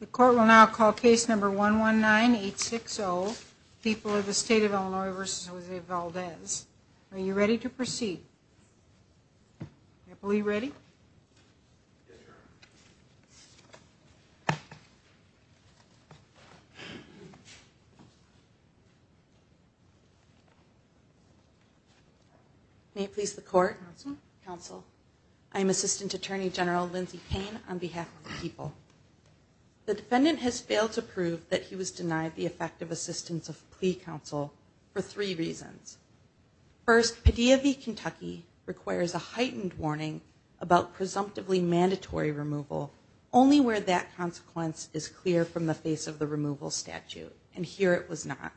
the court will now call case number one one nine eight six Oh people of the state of Illinois versus Jose Valdez are you ready to proceed I believe ready may please the court counsel I'm assistant attorney general Lindsay Payne on behalf of the people the defendant has failed to prove that he was denied the effective assistance of plea counsel for three reasons first Padilla v Kentucky requires a heightened warning about presumptively mandatory removal only where that consequence is clear from the face of the removal statute and here it was not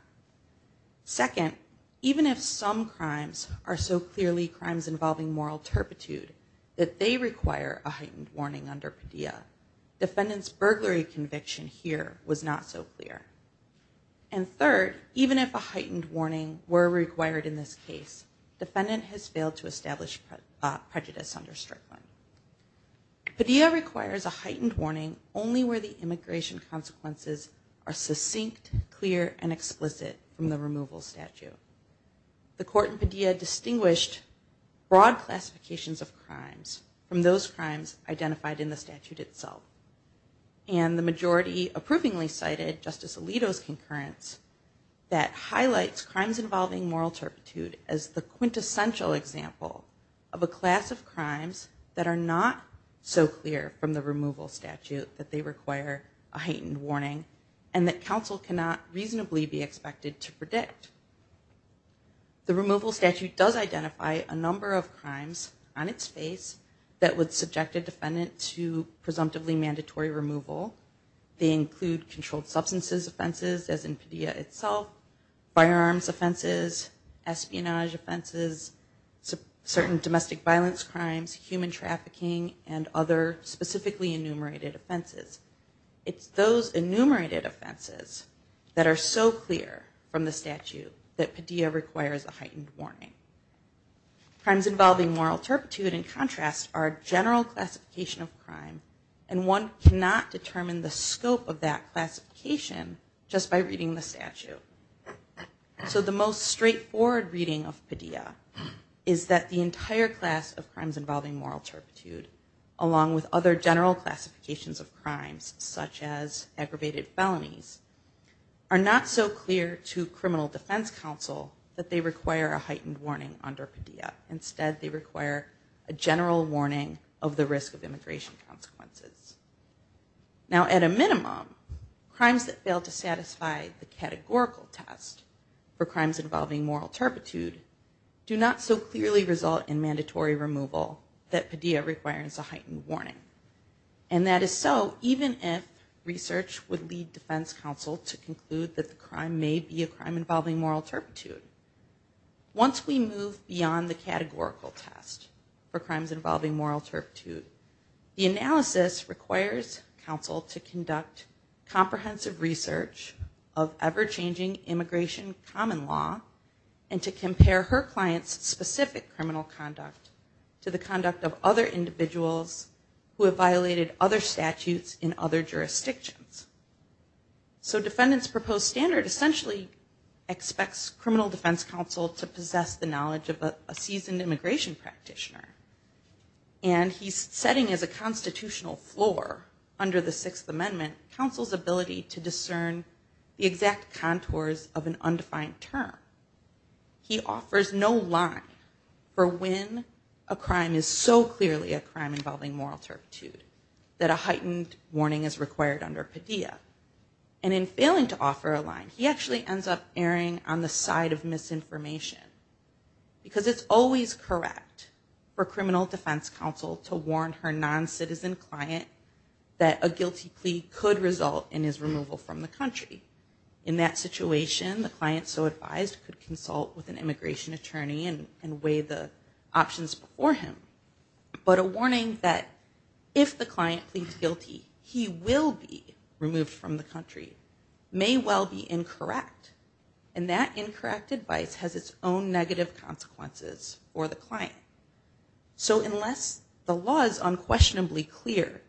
second even if some crimes are so clearly crimes involving moral turpitude that they require a heightened warning under Padilla defendants burglary conviction here was not so clear and third even if a heightened warning were required in this case defendant has failed to establish prejudice under Strickland Padilla requires a heightened warning only where the immigration consequences are succinct clear and explicit from the classifications of crimes from those crimes identified in the statute itself and the majority approvingly cited Justice Alito's concurrence that highlights crimes involving moral turpitude as the quintessential example of a class of crimes that are not so clear from the removal statute that they require a heightened warning and that counsel cannot reasonably be expected to on its face that would subject a defendant to presumptively mandatory removal they include controlled substances offenses as in Padilla itself firearms offenses espionage offenses certain domestic violence crimes human trafficking and other specifically enumerated offenses it's those enumerated offenses that are so clear from the statute that Padilla requires a moral turpitude in contrast our general classification of crime and one cannot determine the scope of that classification just by reading the statute so the most straightforward reading of Padilla is that the entire class of crimes involving moral turpitude along with other general classifications of crimes such as aggravated felonies are not so clear to criminal defense counsel that they require a heightened warning under instead they require a general warning of the risk of immigration consequences now at a minimum crimes that fail to satisfy the categorical test for crimes involving moral turpitude do not so clearly result in mandatory removal that Padilla requires a heightened warning and that is so even if research would lead defense counsel to conclude that the crime may be a crime involving moral turpitude once we move beyond the categorical test for crimes involving moral turpitude the analysis requires counsel to conduct comprehensive research of ever-changing immigration common law and to compare her clients specific criminal conduct to the conduct of other individuals who have violated other statutes in other jurisdictions so defendants proposed standard essentially expects criminal defense counsel to possess the knowledge of a seasoned immigration practitioner and he's setting as a constitutional floor under the Sixth Amendment counsel's ability to discern the exact contours of an undefined term he offers no line for when a crime is so clearly a crime involving moral turpitude that a heightened warning is required under Padilla and in failing to offer a line he actually ends up erring on the side of misinformation because it's always correct for criminal defense counsel to warn her non-citizen client that a guilty plea could result in his removal from the country in that situation the client so advised could consult with an immigration attorney and weigh the options before him but a warning that if the client pleads guilty he will be removed from the country may well be incorrect and that incorrect advice has its own negative consequences for the client so unless the law is unquestionably clear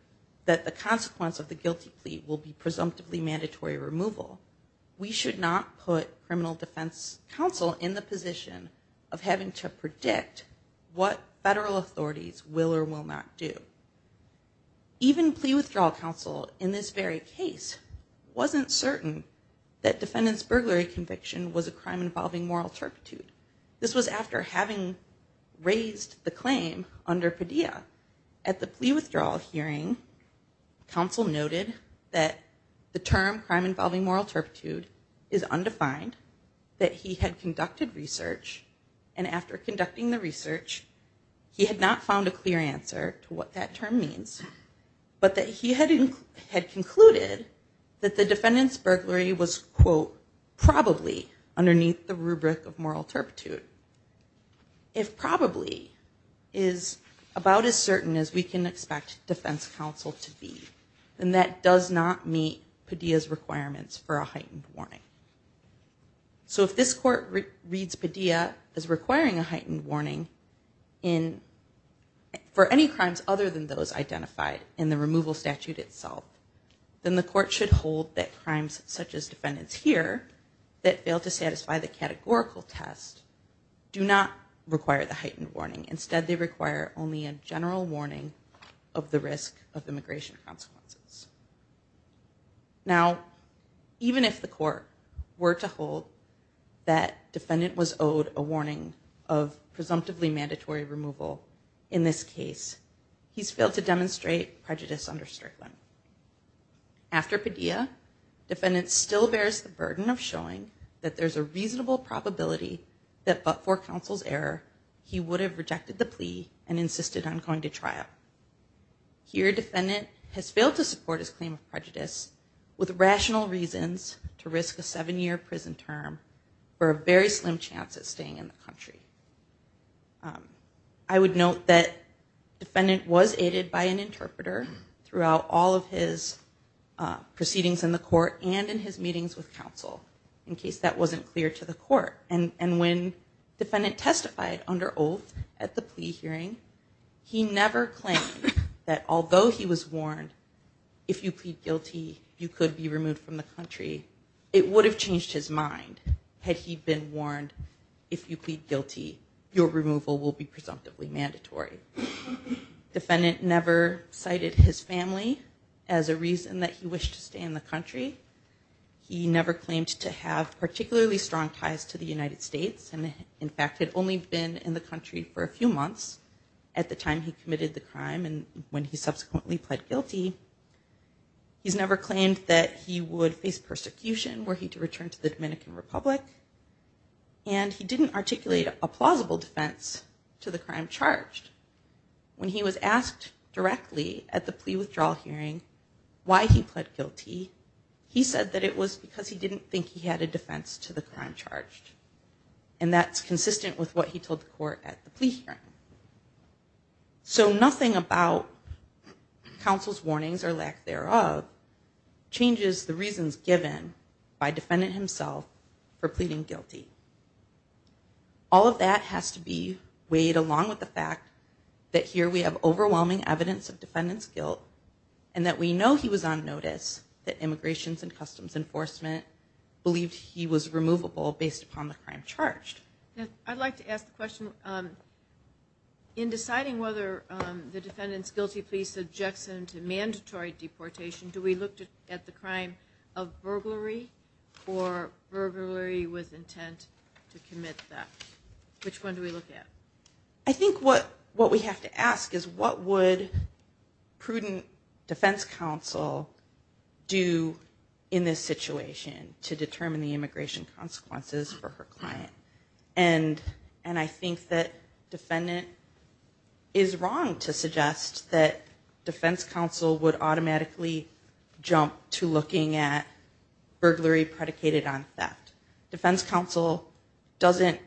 that the consequence of the guilty plea will be presumptively mandatory removal we should not put criminal defense counsel in the position of having to predict what federal authorities will or will not do even plea withdrawal counsel in this very case wasn't certain that defendants burglary conviction was a crime involving moral turpitude this was after having raised the claim under Padilla at the plea withdrawal hearing counsel noted that the term crime involving moral turpitude is undefined that he had conducted research and after conducting the research he had not found a clear answer to what that term means but that he hadn't had concluded that the defendants burglary was quote probably underneath the rubric of moral turpitude if probably is about as certain as we can expect defense counsel to be and that does not meet Padilla's requirements for a heightened warning so if this court reads Padilla as requiring a heightened warning in for any crimes other than those identified in the removal statute itself then the court should hold that crimes such as defendants here that failed to satisfy the categorical test do not require the heightened warning instead they require only a general warning of the risk of immigration consequences now even if the court were to hold that defendant was owed a presumptively mandatory removal in this case he's failed to demonstrate prejudice under Strickland after Padilla defendant still bears the burden of showing that there's a reasonable probability that but for counsel's error he would have rejected the plea and insisted on going to trial here defendant has failed to support his claim of prejudice with rational reasons to risk a seven-year prison term for a very slim chance of staying in the country I would note that defendant was aided by an interpreter throughout all of his proceedings in the court and in his meetings with counsel in case that wasn't clear to the court and and when defendant testified under oath at the plea hearing he never claimed that although he was warned if you plead guilty you could be removed from the his mind had he been warned if you plead guilty your removal will be presumptively mandatory defendant never cited his family as a reason that he wished to stay in the country he never claimed to have particularly strong ties to the United States and in fact had only been in the country for a few months at the time he committed the crime and when he subsequently pled guilty he's never claimed that he would face persecution were he to return to the Dominican Republic and he didn't articulate a plausible defense to the crime charged when he was asked directly at the plea withdrawal hearing why he pled guilty he said that it was because he didn't think he had a defense to the crime charged and that's consistent with what he told the court at the plea hearing so nothing about counsel's warnings or lack thereof changes the self for pleading guilty all of that has to be weighed along with the fact that here we have overwhelming evidence of defendants guilt and that we know he was on notice that Immigrations and Customs Enforcement believed he was removable based upon the crime charged I'd like to ask the question in deciding whether the defendant's guilty plea subjects him to mandatory deportation do we look at the crime of burglary or burglary with intent to commit that which one do we look at I think what what we have to ask is what would prudent defense counsel do in this situation to determine the immigration consequences for her client and and I think that defendant is wrong to suggest that counsel would automatically jump to looking at burglary predicated on that defense counsel doesn't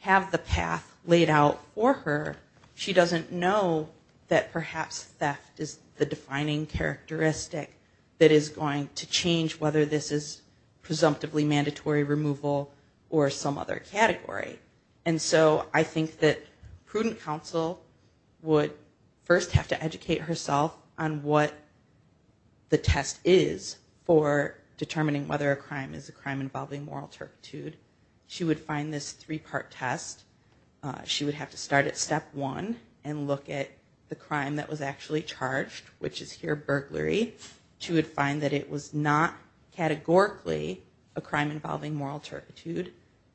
have the path laid out for her she doesn't know that perhaps theft is the defining characteristic that is going to change whether this is presumptively mandatory removal or some other category and so I think that prudent counsel would first have to educate herself on what the test is for determining whether a crime is a crime involving moral turpitude she would find this three-part test she would have to start at step one and look at the crime that was actually charged which is here burglary she would find that it was not categorically a crime involving moral turpitude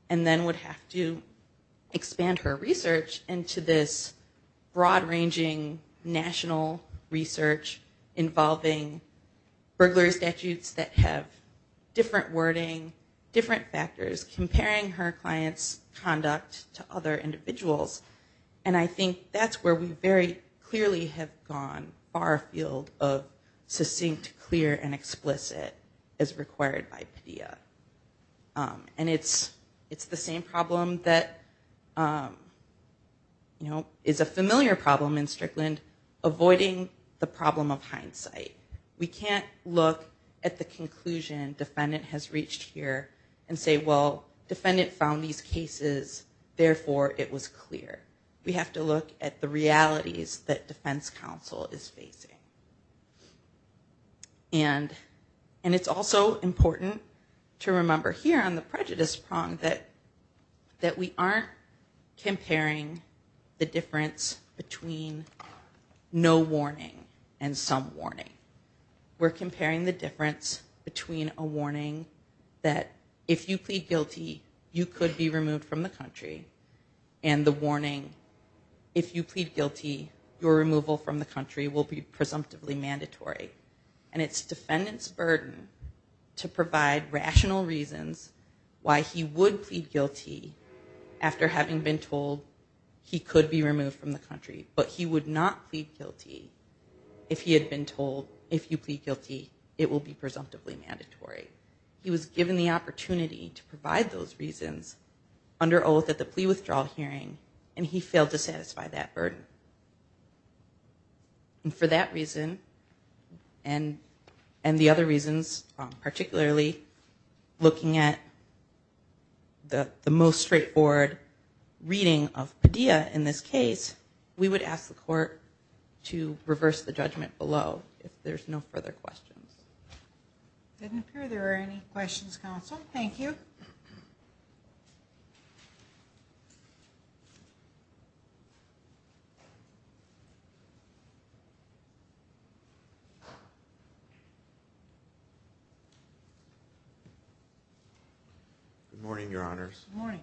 and then would have to expand her research into this broad-ranging national research involving burglary statutes that have different wording different factors comparing her clients conduct to other individuals and I think that's where we very clearly have gone far afield of succinct clear and explicit as required by Padilla and it's it's the same problem that you know is a familiar problem in Strickland avoiding the problem of hindsight we can't look at the conclusion defendant has reached here and say well defendant found these cases therefore it was clear we have to look at the realities that defense counsel is facing and and it's also important to remember here on the prejudice prong that that we aren't comparing the difference between no warning and some warning we're comparing the difference between a warning that if you plead guilty you could be removed from the country and the warning if you guilty your removal from the country will be presumptively mandatory and it's defendants burden to provide rational reasons why he would plead guilty after having been told he could be removed from the country but he would not plead guilty if he had been told if you plead guilty it will be presumptively mandatory he was given the opportunity to provide those reasons under oath at the plea withdrawal hearing and he failed to satisfy that burden and for that reason and and the other reasons particularly looking at the the most straightforward reading of Padilla in this case we would ask the court to reverse the judgment below if there's no further questions there are any questions counsel thank you good morning your honors morning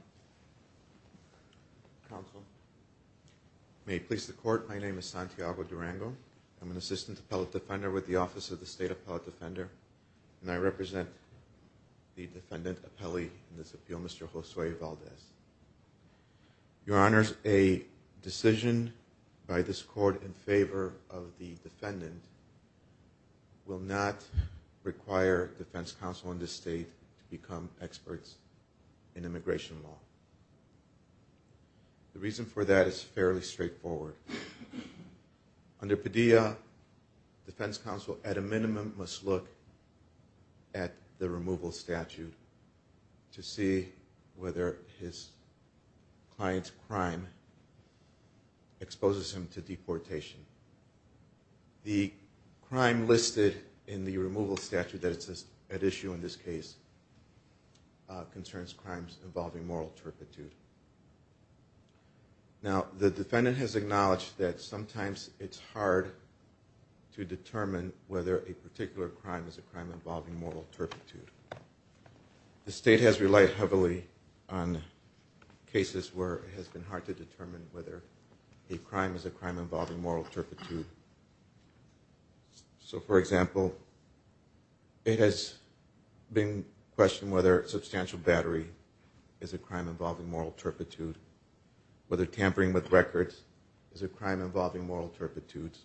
may please the court my name is Santiago Durango I'm an assistant appellate defender with the office of the state appellate defender and I represent the defendant appellee in this appeal mr. Josue Valdez your honors a decision by this court in favor of the defendant will not require defense counsel in this state to become experts in immigration law the reason for that is fairly straightforward under Padilla defense counsel at a minimum must look at the removal statute to see whether his client's crime exposes him to deportation the crime listed in the removal statute that it says at issue in this case concerns crimes involving moral turpitude now the defendant has acknowledged that sometimes it's hard to determine whether a particular crime is a crime involving moral turpitude the state has relied heavily on cases where it has been hard to determine whether a crime is a crime involving moral turpitude so for example it has been questioned whether substantial battery is a crime involving moral turpitude whether tampering with records is a crime involving moral turpitudes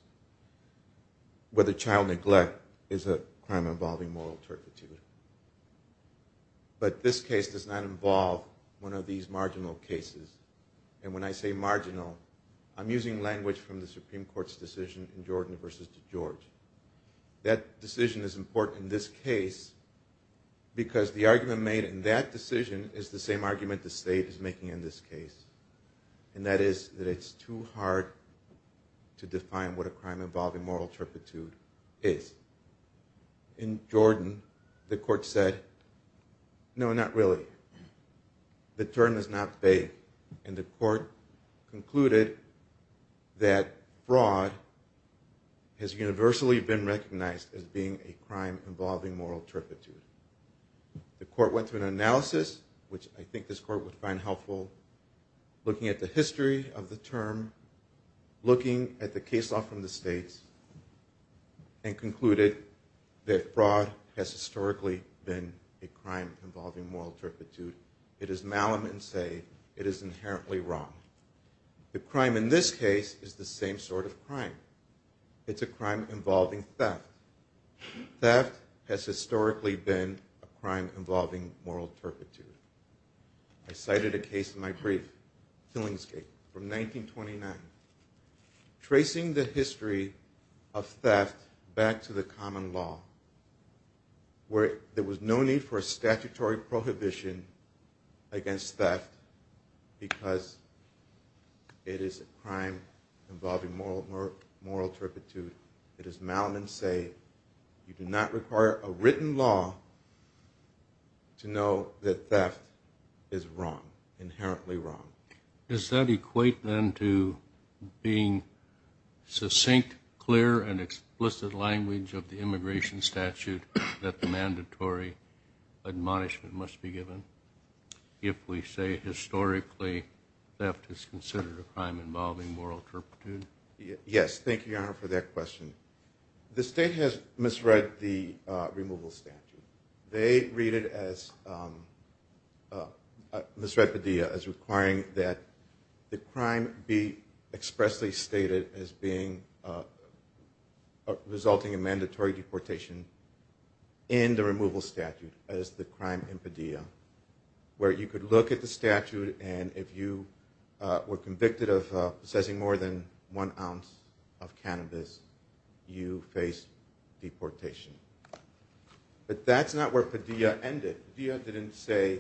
whether child neglect is a crime involving moral turpitude but this case does not involve one of these marginal cases and when I say marginal I'm using language from the Supreme Court's decision in Jordan versus to George that decision is important in this case because the argument made in that decision is the same argument the state is making in this case and that is that it's too hard to define what a crime involving moral turpitude is in Jordan the court said no not really the term is not fake and the court concluded that fraud has universally been recognized as being a crime involving moral turpitude the court went through an analysis which I think this court would find helpful looking at the history of the term looking at the case law from the states and concluded that fraud has historically been a crime involving moral turpitude it is malum and say it is inherently wrong the crime in this case is the same sort of crime it's a crime involving theft that has historically been a crime involving moral turpitude I cited a case in my brief Killingsgate from 1929 tracing the history of theft back to the common law where there was no need for a statutory prohibition against theft because it is a crime involving moral moral moral turpitude it is malum and say you do not require a written law to know that theft is wrong inherently wrong is that equate then to being succinct clear and explicit language of the immigration statute that the mandatory admonishment must be given if we say historically theft is considered a crime involving moral turpitude yes thank you for that question the state has misread the removal statute they read it as misrepudia as requiring that the crime be expressly stated as being resulting in mandatory deportation in the removal statute as the crime impedia where you could look at the statute and if you were convicted of possessing more than one ounce of cannabis you face deportation but that's not where Padilla ended the other didn't say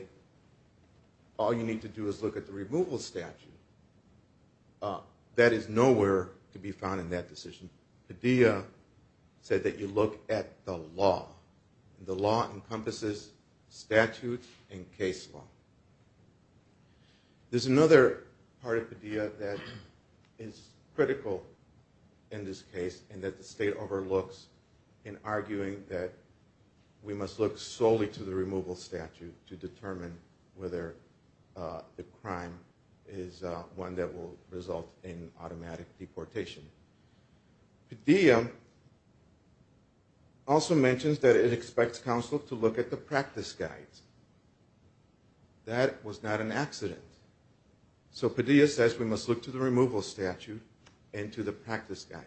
all you need to do is look at the removal statute that is nowhere to be found in that decision Padilla said that you look at the law the law encompasses statute and case law there's another part of the that is critical in this case and that the state overlooks in arguing that we must look solely to the removal statute to determine whether the crime is one that will result in automatic deportation the DM also mentions that it expects counsel to look at the practice guides that was not an accident so Padilla says we must look to the removal statute and to the practice guide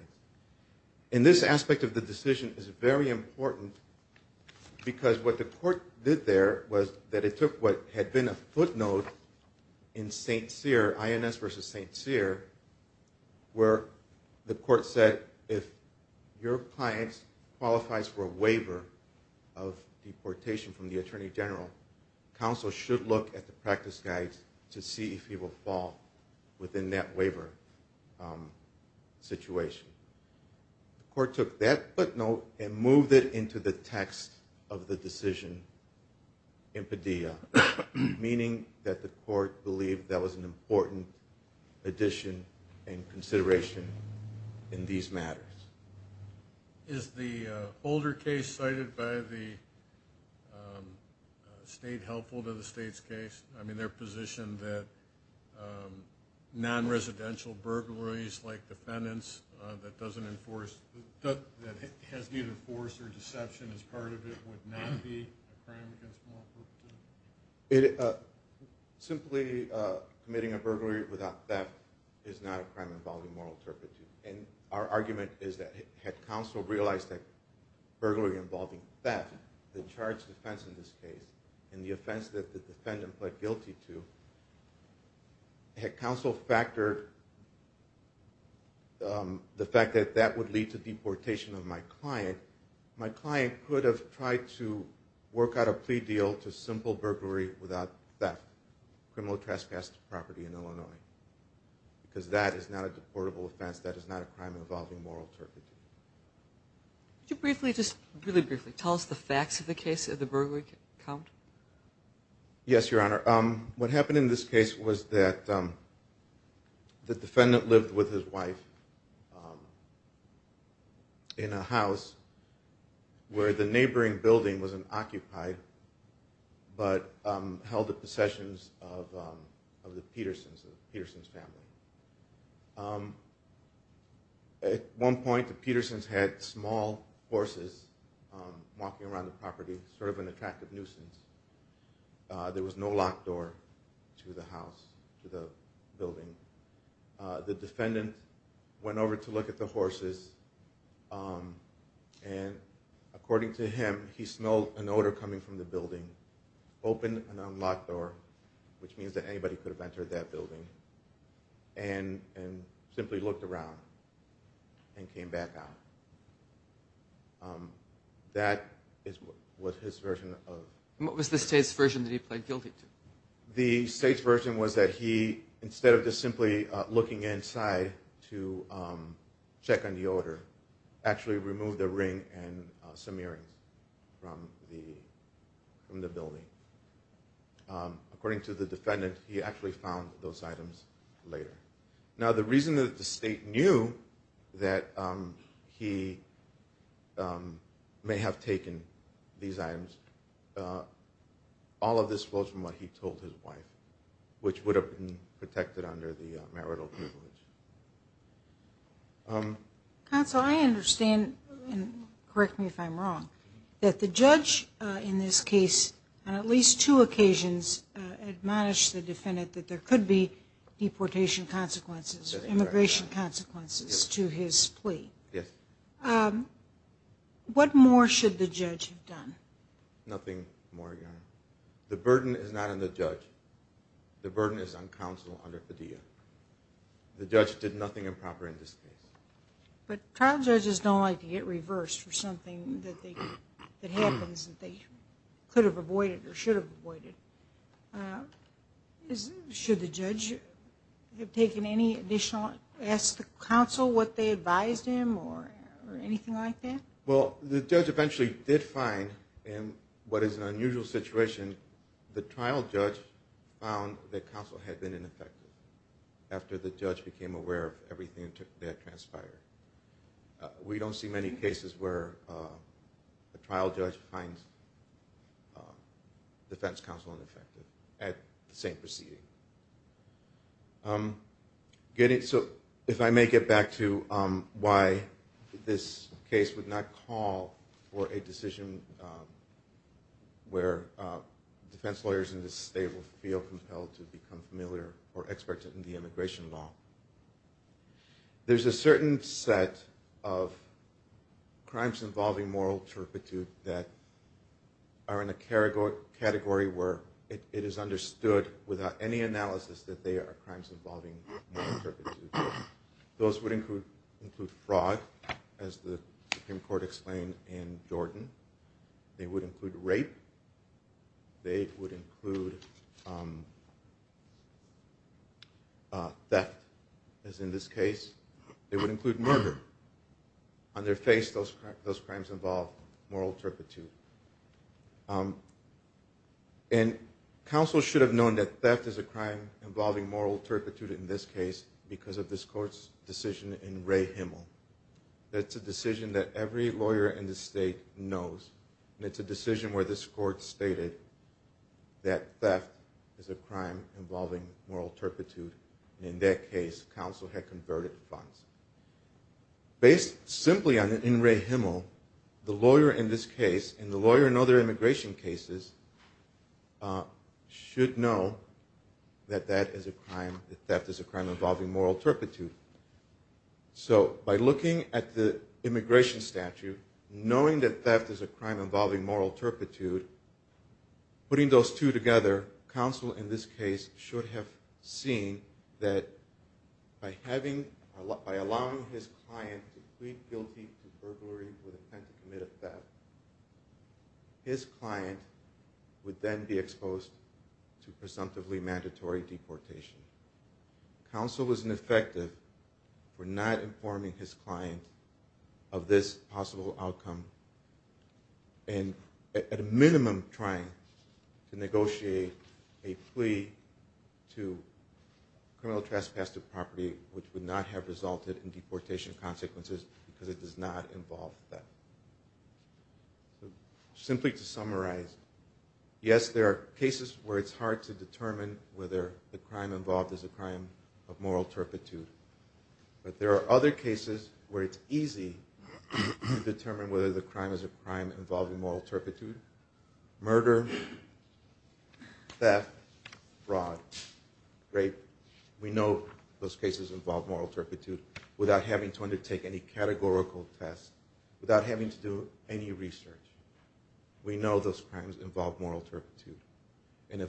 in this aspect of the decision is very important because what the court did there was that it took what had been a footnote in st. Cyr ins versus st. Cyr where the court said if your clients qualifies for a waiver of deportation from the Attorney General counsel should look at the practice guides to see if he will fall within that waiver situation the court took that footnote and moved it into the text of the decision in Padilla meaning that the court believed that was an important addition and consideration in these matters is the older case cited by the state helpful to the state's case I mean they're position that non-residential burglaries like defendants that doesn't enforce that has neither force or deception as part of it would not be it simply committing a burglary without that is not a crime involving moral turpitude and our argument is that head counsel realized that burglary involving that the charge defense in this case and the offense that the defendant pled guilty to head counsel factored the fact that that would lead to deportation of my client my client could have tried to work out a plea deal to simple burglary without that criminal trespassed property in Illinois because that is not a deportable offense that is not a crime involving moral turpitude you briefly just really briefly tell us the facts of the case of the burglary yes your honor what happened in this case was that the defendant lived with his wife in a house where the neighboring building was an occupied but held the possessions of the Petersons family at one point the Petersons had small horses walking around the property sort of an attractive nuisance there was no locked door to the house to the building the defendant went over to look at the horses and according to him he smelled an odor coming from the building open and unlocked door which means that anybody could have entered that building and and simply looked around and came back out that is what his version of what was the state's version that he pled guilty to the state's version was that he instead of just simply looking inside to check on the odor actually removed the ring and some earrings from the from the building according to the defendant he actually found those items now the reason that the state knew that he may have taken these items all of this was from what he told his wife which would have been protected under the marital council I understand and correct me if I'm wrong that the judge in this case on at least two occasions admonish the defendant that there could be deportation consequences immigration consequences to his plea yes what more should the judge have done nothing more the burden is not on the judge the burden is on counsel under Padilla the judge did nothing improper in this case but trial judges don't like to get reversed for something that they could they could have avoided or should have avoided is should the judge you've taken any additional ask the council what they advised him or anything like that well the judge eventually did find and what is an unusual situation the trial judge found that counsel had been ineffective after the judge became aware of everything that transpired we don't see many cases where the trial judge finds defense counsel ineffective at the same proceeding getting so if I may get back to why this case would not call for a decision where defense lawyers in this state will feel compelled to become familiar or expert in the immigration law there's a certain set of crimes involving moral turpitude that are in a category where it is understood without any analysis that they are crimes involving those would include include fraud as the Supreme Court explained in that as in this case it would include murder on their face those those crimes involve moral turpitude and counsel should have known that theft is a crime involving moral turpitude in this case because of this court's decision in Ray Himmel that's a decision that every lawyer in the state knows it's a crime involving moral turpitude in that case counsel had converted funds based simply on in Ray Himmel the lawyer in this case and the lawyer and other immigration cases should know that that is a crime that is a crime involving moral turpitude so by looking at the immigration statute knowing that theft is a crime involving moral turpitude putting those two together counsel in this case should have seen that by having a lot by allowing his client to plead guilty to burglary with attempt to commit a theft his client would then be exposed to presumptively mandatory deportation counsel was ineffective for not informing his client of this possible outcome and at a minimum trying to negotiate a plea to criminal trespass to property which would not have resulted in deportation consequences because it does not involve that simply to summarize yes there are cases where it's hard to determine whether the crime involved is a crime of moral turpitude but there are other cases where it's easy to determine whether the crime is a crime involving moral turpitude murder theft fraud rape we know those cases involve moral turpitude without having to undertake any categorical test without having to do any research we know those crimes involve moral turpitude and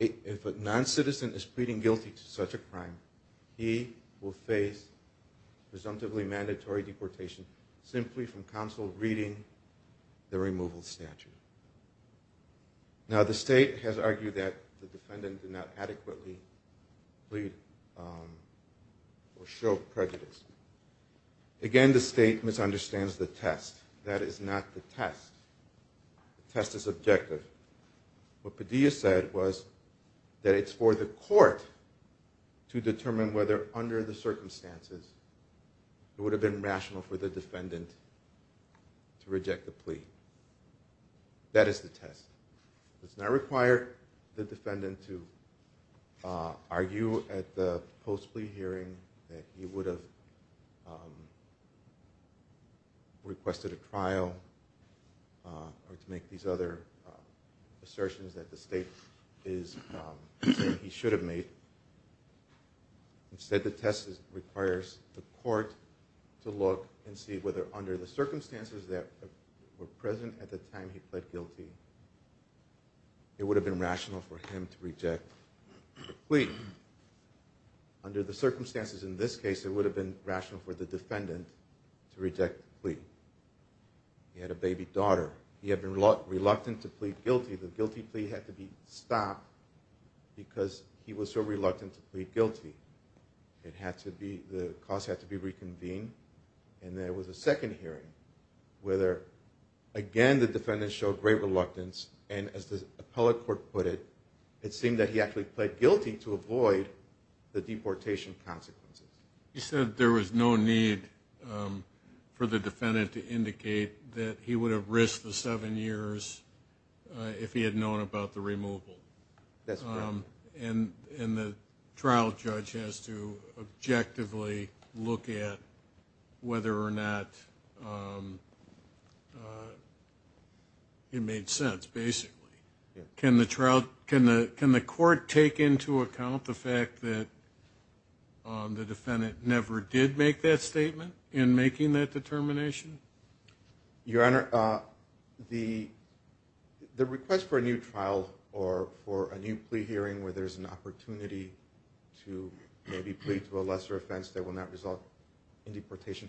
if a non-citizen is pleading guilty to such a crime he will face presumptively mandatory deportation simply from counsel reading the removal statute now the state has argued that the defendant did not adequately plead or show prejudice again the state misunderstands the test that is not the test the test is objective what Padilla said was that it's for the court to determine whether under the circumstances it would have been rational for the defendant to reject the plea that is the test it's not required the defendant to argue at the post plea hearing that you would have requested a trial or to make these other assertions that the state is he should have made instead the test requires the court to look and see whether under the circumstances that were present at the time he pled guilty it would have been rational for him to reject plea under the circumstances in this case it would have been rational for the defendant to reject plea he had a baby daughter he had been reluctant to plead guilty the guilty plea had to be stopped because he was so reluctant to plead guilty it had to be the cause had to be reconvened and there was a second hearing whether again the defendant showed great reluctance and as the appellate court put it it seemed that he actually pled guilty to avoid the deportation consequences he said there was no need for the defendant to indicate that he would have risked the seven years if he had known about the removal that's wrong and in the trial judge has to objectively look at whether or not it made sense basically can the trial can the can the court take into account the fact that the defendant never did make that statement in making that determination your honor the the request for a new trial or for a new plea hearing where there's an opportunity to maybe plead to a lesser offense that will not result in deportation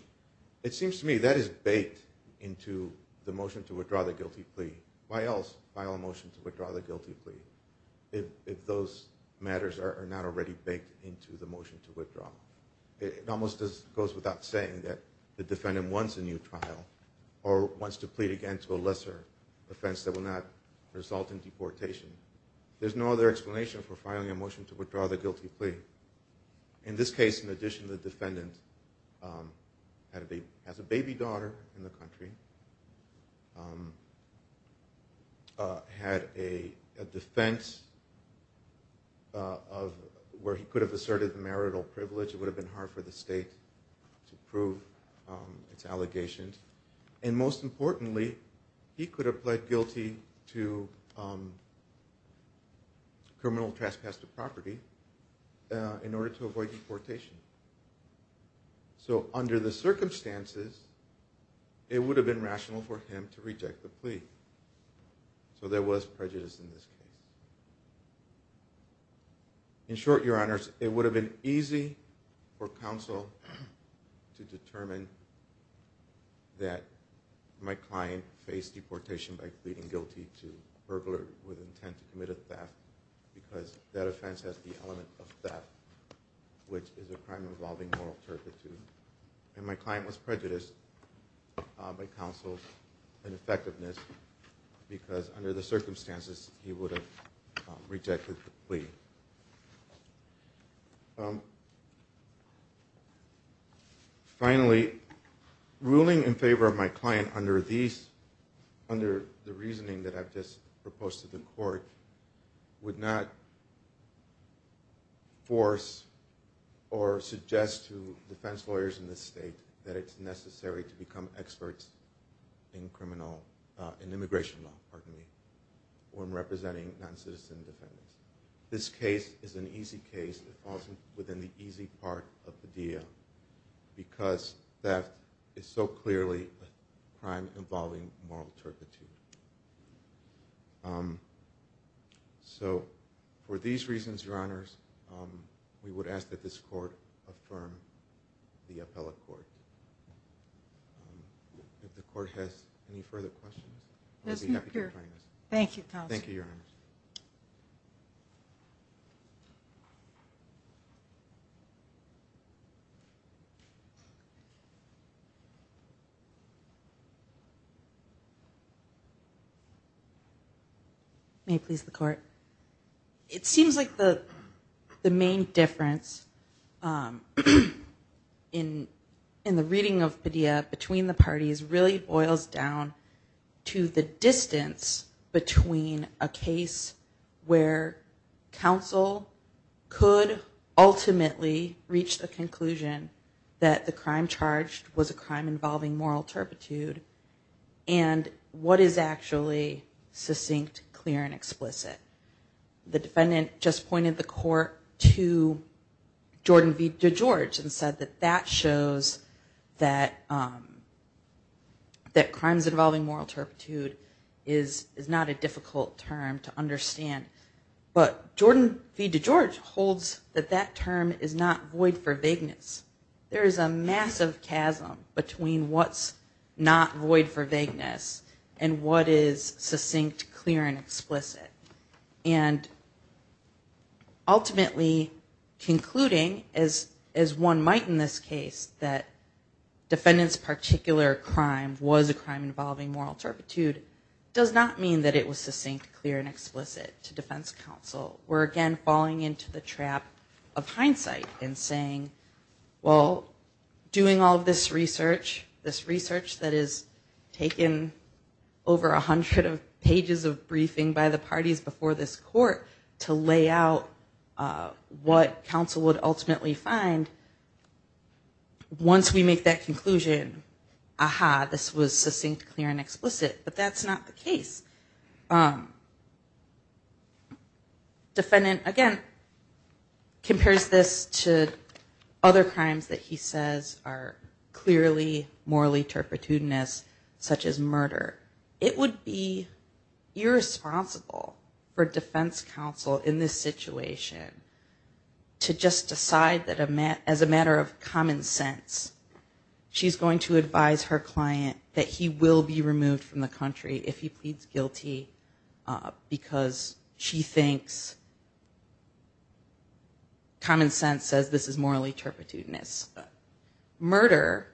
it seems to me that is baked into the motion to withdraw the guilty plea why else file a motion to withdraw the guilty plea if those matters are not already baked into the motion to withdraw it almost goes without saying that the defendant wants a new trial or wants to plead again to a lesser offense that will not result in deportation there's no other explanation for filing a motion to withdraw the guilty plea in this case in addition the defendant had a baby daughter in the country had a defense of where he could have asserted the marital privilege it would have been hard for the state to prove its allegations and most importantly he could have pled guilty to criminal trespass to property in order to avoid deportation so under the circumstances it would have been rational for him to reject the plea so there was prejudice in this case in short your honors it would have been easy for counsel to determine that my client faced deportation by pleading guilty to that offense has the element of theft which is a crime involving moral turpitude and my client was prejudiced by counsel's ineffectiveness because under the circumstances he would have rejected the plea finally ruling in favor of my client under these under the reasoning that I've proposed to the court would not force or suggest to defense lawyers in this state that it's necessary to become experts in criminal in immigration law pardon me when representing non-citizen defendants this case is an easy case that falls within the easy part of so for these reasons your honors we would ask that this court affirm the appellate court if the court has any further questions thank you thank you your honor may please the court it seems like the the main difference in in the reading of Padilla between the parties really boils down to the distance between a case where counsel could ultimately reach the conclusion that the crime charged was a crime involving moral turpitude and what is actually succinct clear and explicit the defendant just pointed the court to Jordan V DeGeorge and said that that shows that that crimes involving moral turpitude is is not a difficult term to understand but Jordan V DeGeorge holds that that term is not void for vagueness there is a massive chasm between what's not void for vagueness and what is succinct clear and explicit and ultimately concluding as as one might in this case that defendants particular crime was a crime involving moral turpitude does not mean that it was succinct clear and explicit to defense counsel we're again falling into the trap of hindsight and saying well doing all this research this research that is taken over a hundred of pages of briefing by the parties before this court to lay out what counsel would ultimately find once we make that defendant again compares this to other crimes that he says are clearly morally turpitudinous such as murder it would be irresponsible for defense counsel in this situation to just decide that a man as a matter of common sense she's going to advise her client that he will be removed from the country if he pleads guilty because she thinks common sense says this is morally turpitudinous murder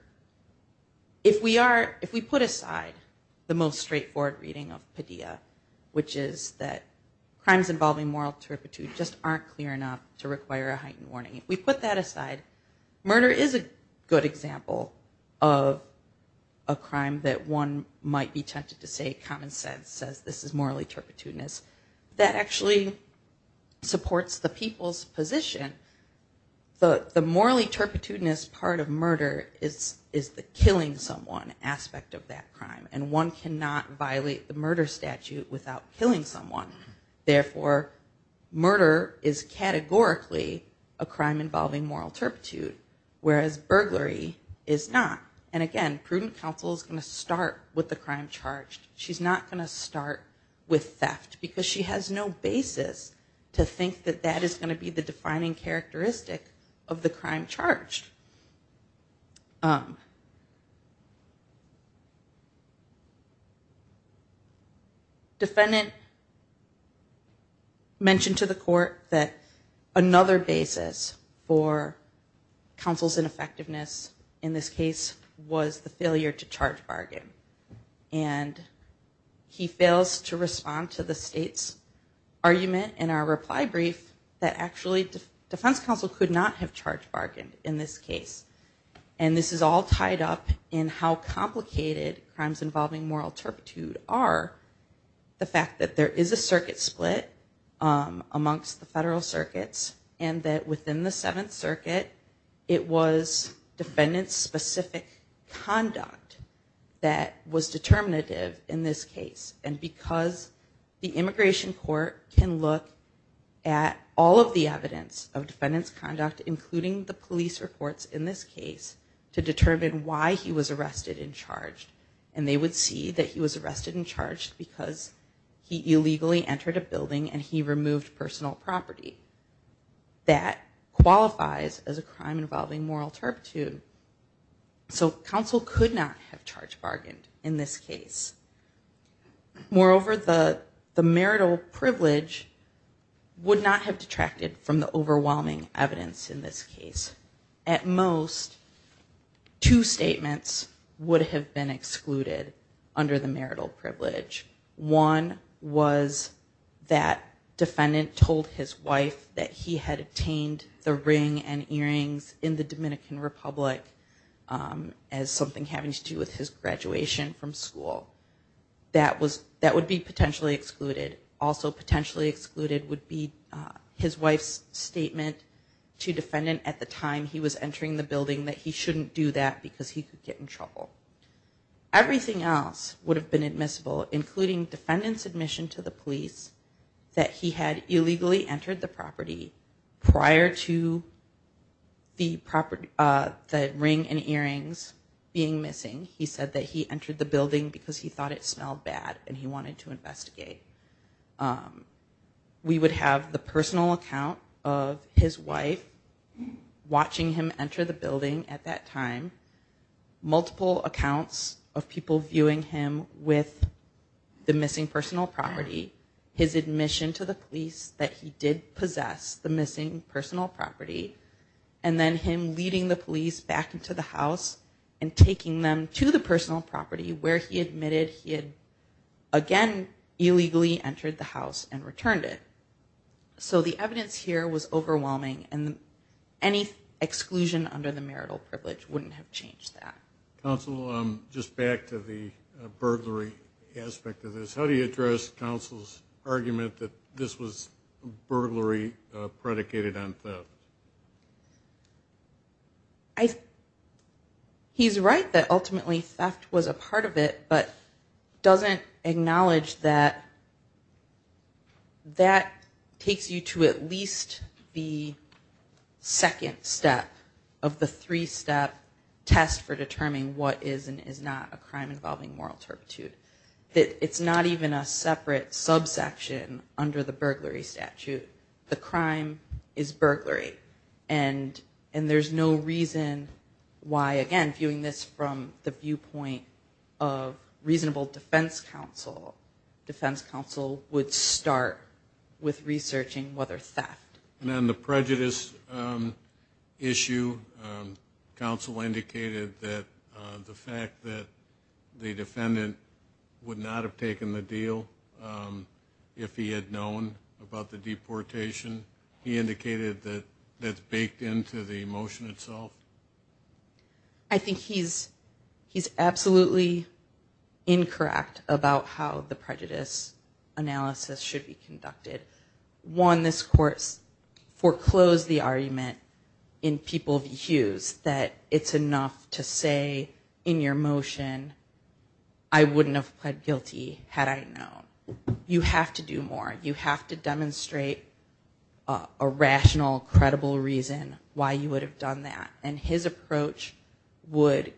if we are if we put aside the most straightforward reading of Padilla which is that crimes involving moral turpitude just aren't clear enough to require a heightened warning if we put that aside murder is a good example of a crime that one might be tempted to say common sense says this is morally turpitudinous that actually supports the people's position but the morally turpitudinous part of murder is is the killing someone aspect of that crime and one cannot violate the murder statute without killing someone therefore murder is categorically a crime involving moral turpitude whereas burglary is not and again prudent counsel is going to start with the crime charged she's not gonna start with theft because she has no basis to think that that is going to be the defining characteristic of the crime charged. Defendant mentioned to the court that another basis for counsel's ineffectiveness in this case was the failure to charge bargain and he defense counsel could not have charged bargain in this case and this is all tied up in how complicated crimes involving moral turpitude are the fact that there is a circuit split amongst the federal circuits and that within the Seventh Circuit it was defendants specific conduct that was determinative in this case and because the immigration court can look at all of the evidence of defendants conduct including the police reports in this case to determine why he was arrested and charged and they would see that he was arrested and charged because he illegally entered a building and he removed personal property that qualifies as a crime involving moral turpitude so counsel could not have charged bargained in this case moreover the the marital privilege would not have detracted from the overwhelming evidence in this case at most two statements would have been excluded under the marital privilege one was that defendant told his wife that he had obtained the ring and earrings in the Dominican Republic as something having to do with his graduation from school that was that would be potentially excluded also potentially excluded would be his wife's statement to defendant at the time he was entering the building that he shouldn't do that because he could get in trouble everything else would have been admissible including defendants admission to the police that he had illegally entered the property prior to the property the ring and earrings being missing he said that he entered the building because he thought it smelled bad and he wanted to investigate we would have the personal account of his wife watching him enter the building at that time multiple accounts of people viewing him with the missing personal property his admission to the police that he did possess the missing personal property and then him leading the police back into the house and taking them to the personal property where he admitted he had again illegally entered the house and returned it so the evidence here was overwhelming and any exclusion under the marital privilege wouldn't have changed that council just back to the burglary aspect of this how do you address counsel's argument that this was burglary predicated on I he's right that ultimately theft was a part of it but doesn't acknowledge that that takes you to at least the second step of the three-step test for determining what is and is not a crime involving moral turpitude that it's not even a separate subsection under the burglary statute the crime is burglary and and there's no reason why again viewing this from the viewpoint of reasonable defense counsel defense would start with researching whether theft and then the prejudice issue counsel indicated that the fact that the defendant would not have taken the deal if he had known about the deportation he indicated that that's baked into the motion itself I think he's he's absolutely incorrect about how the prejudice analysis should be conducted one this course foreclosed the argument in people views that it's enough to say in your motion I wouldn't have pled guilty had I known you have to do more you have to demonstrate a rational credible reason why you would have done that and his approach would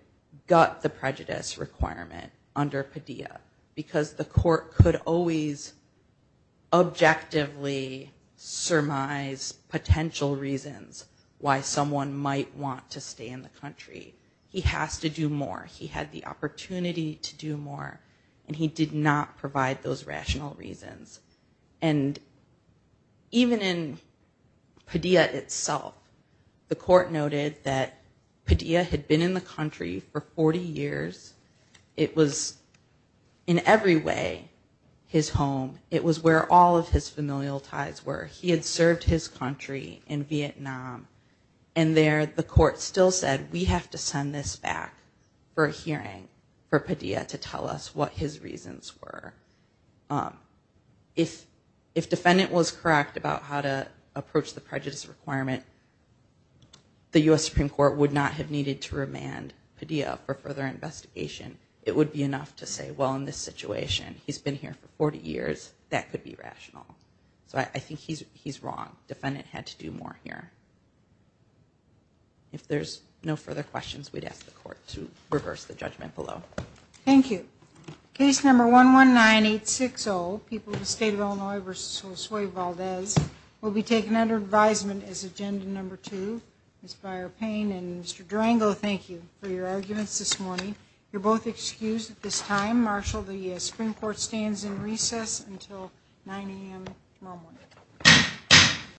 gut the prejudice requirement under Padilla because the court could always objectively surmise potential reasons why someone might want to stay in the country he has to do more he had the opportunity to do more and he did not provide those rational reasons and even in Padilla itself the court noted that Padilla had been in the country for 40 years it was in every way his home it was where all of his familial ties were he had served his country in Vietnam and there the court still said we have to send this back for a hearing for Padilla to tell us what his reasons were if if defendant was correct about how to approach the prejudice requirement the US Supreme Court would not have needed to remand Padilla for further investigation it would be enough to say well in this situation he's been here for 40 years that could be rational so I think he's he's wrong defendant had to do more here if there's no further questions we'd ask the case number one one nine eight six oh people the state of Illinois versus Josue Valdez will be taken under advisement as agenda number two inspired pain and mr. Durango thank you for your arguments this morning you're both excused at this time marshal the Supreme Court stands in recess until 9 a.m.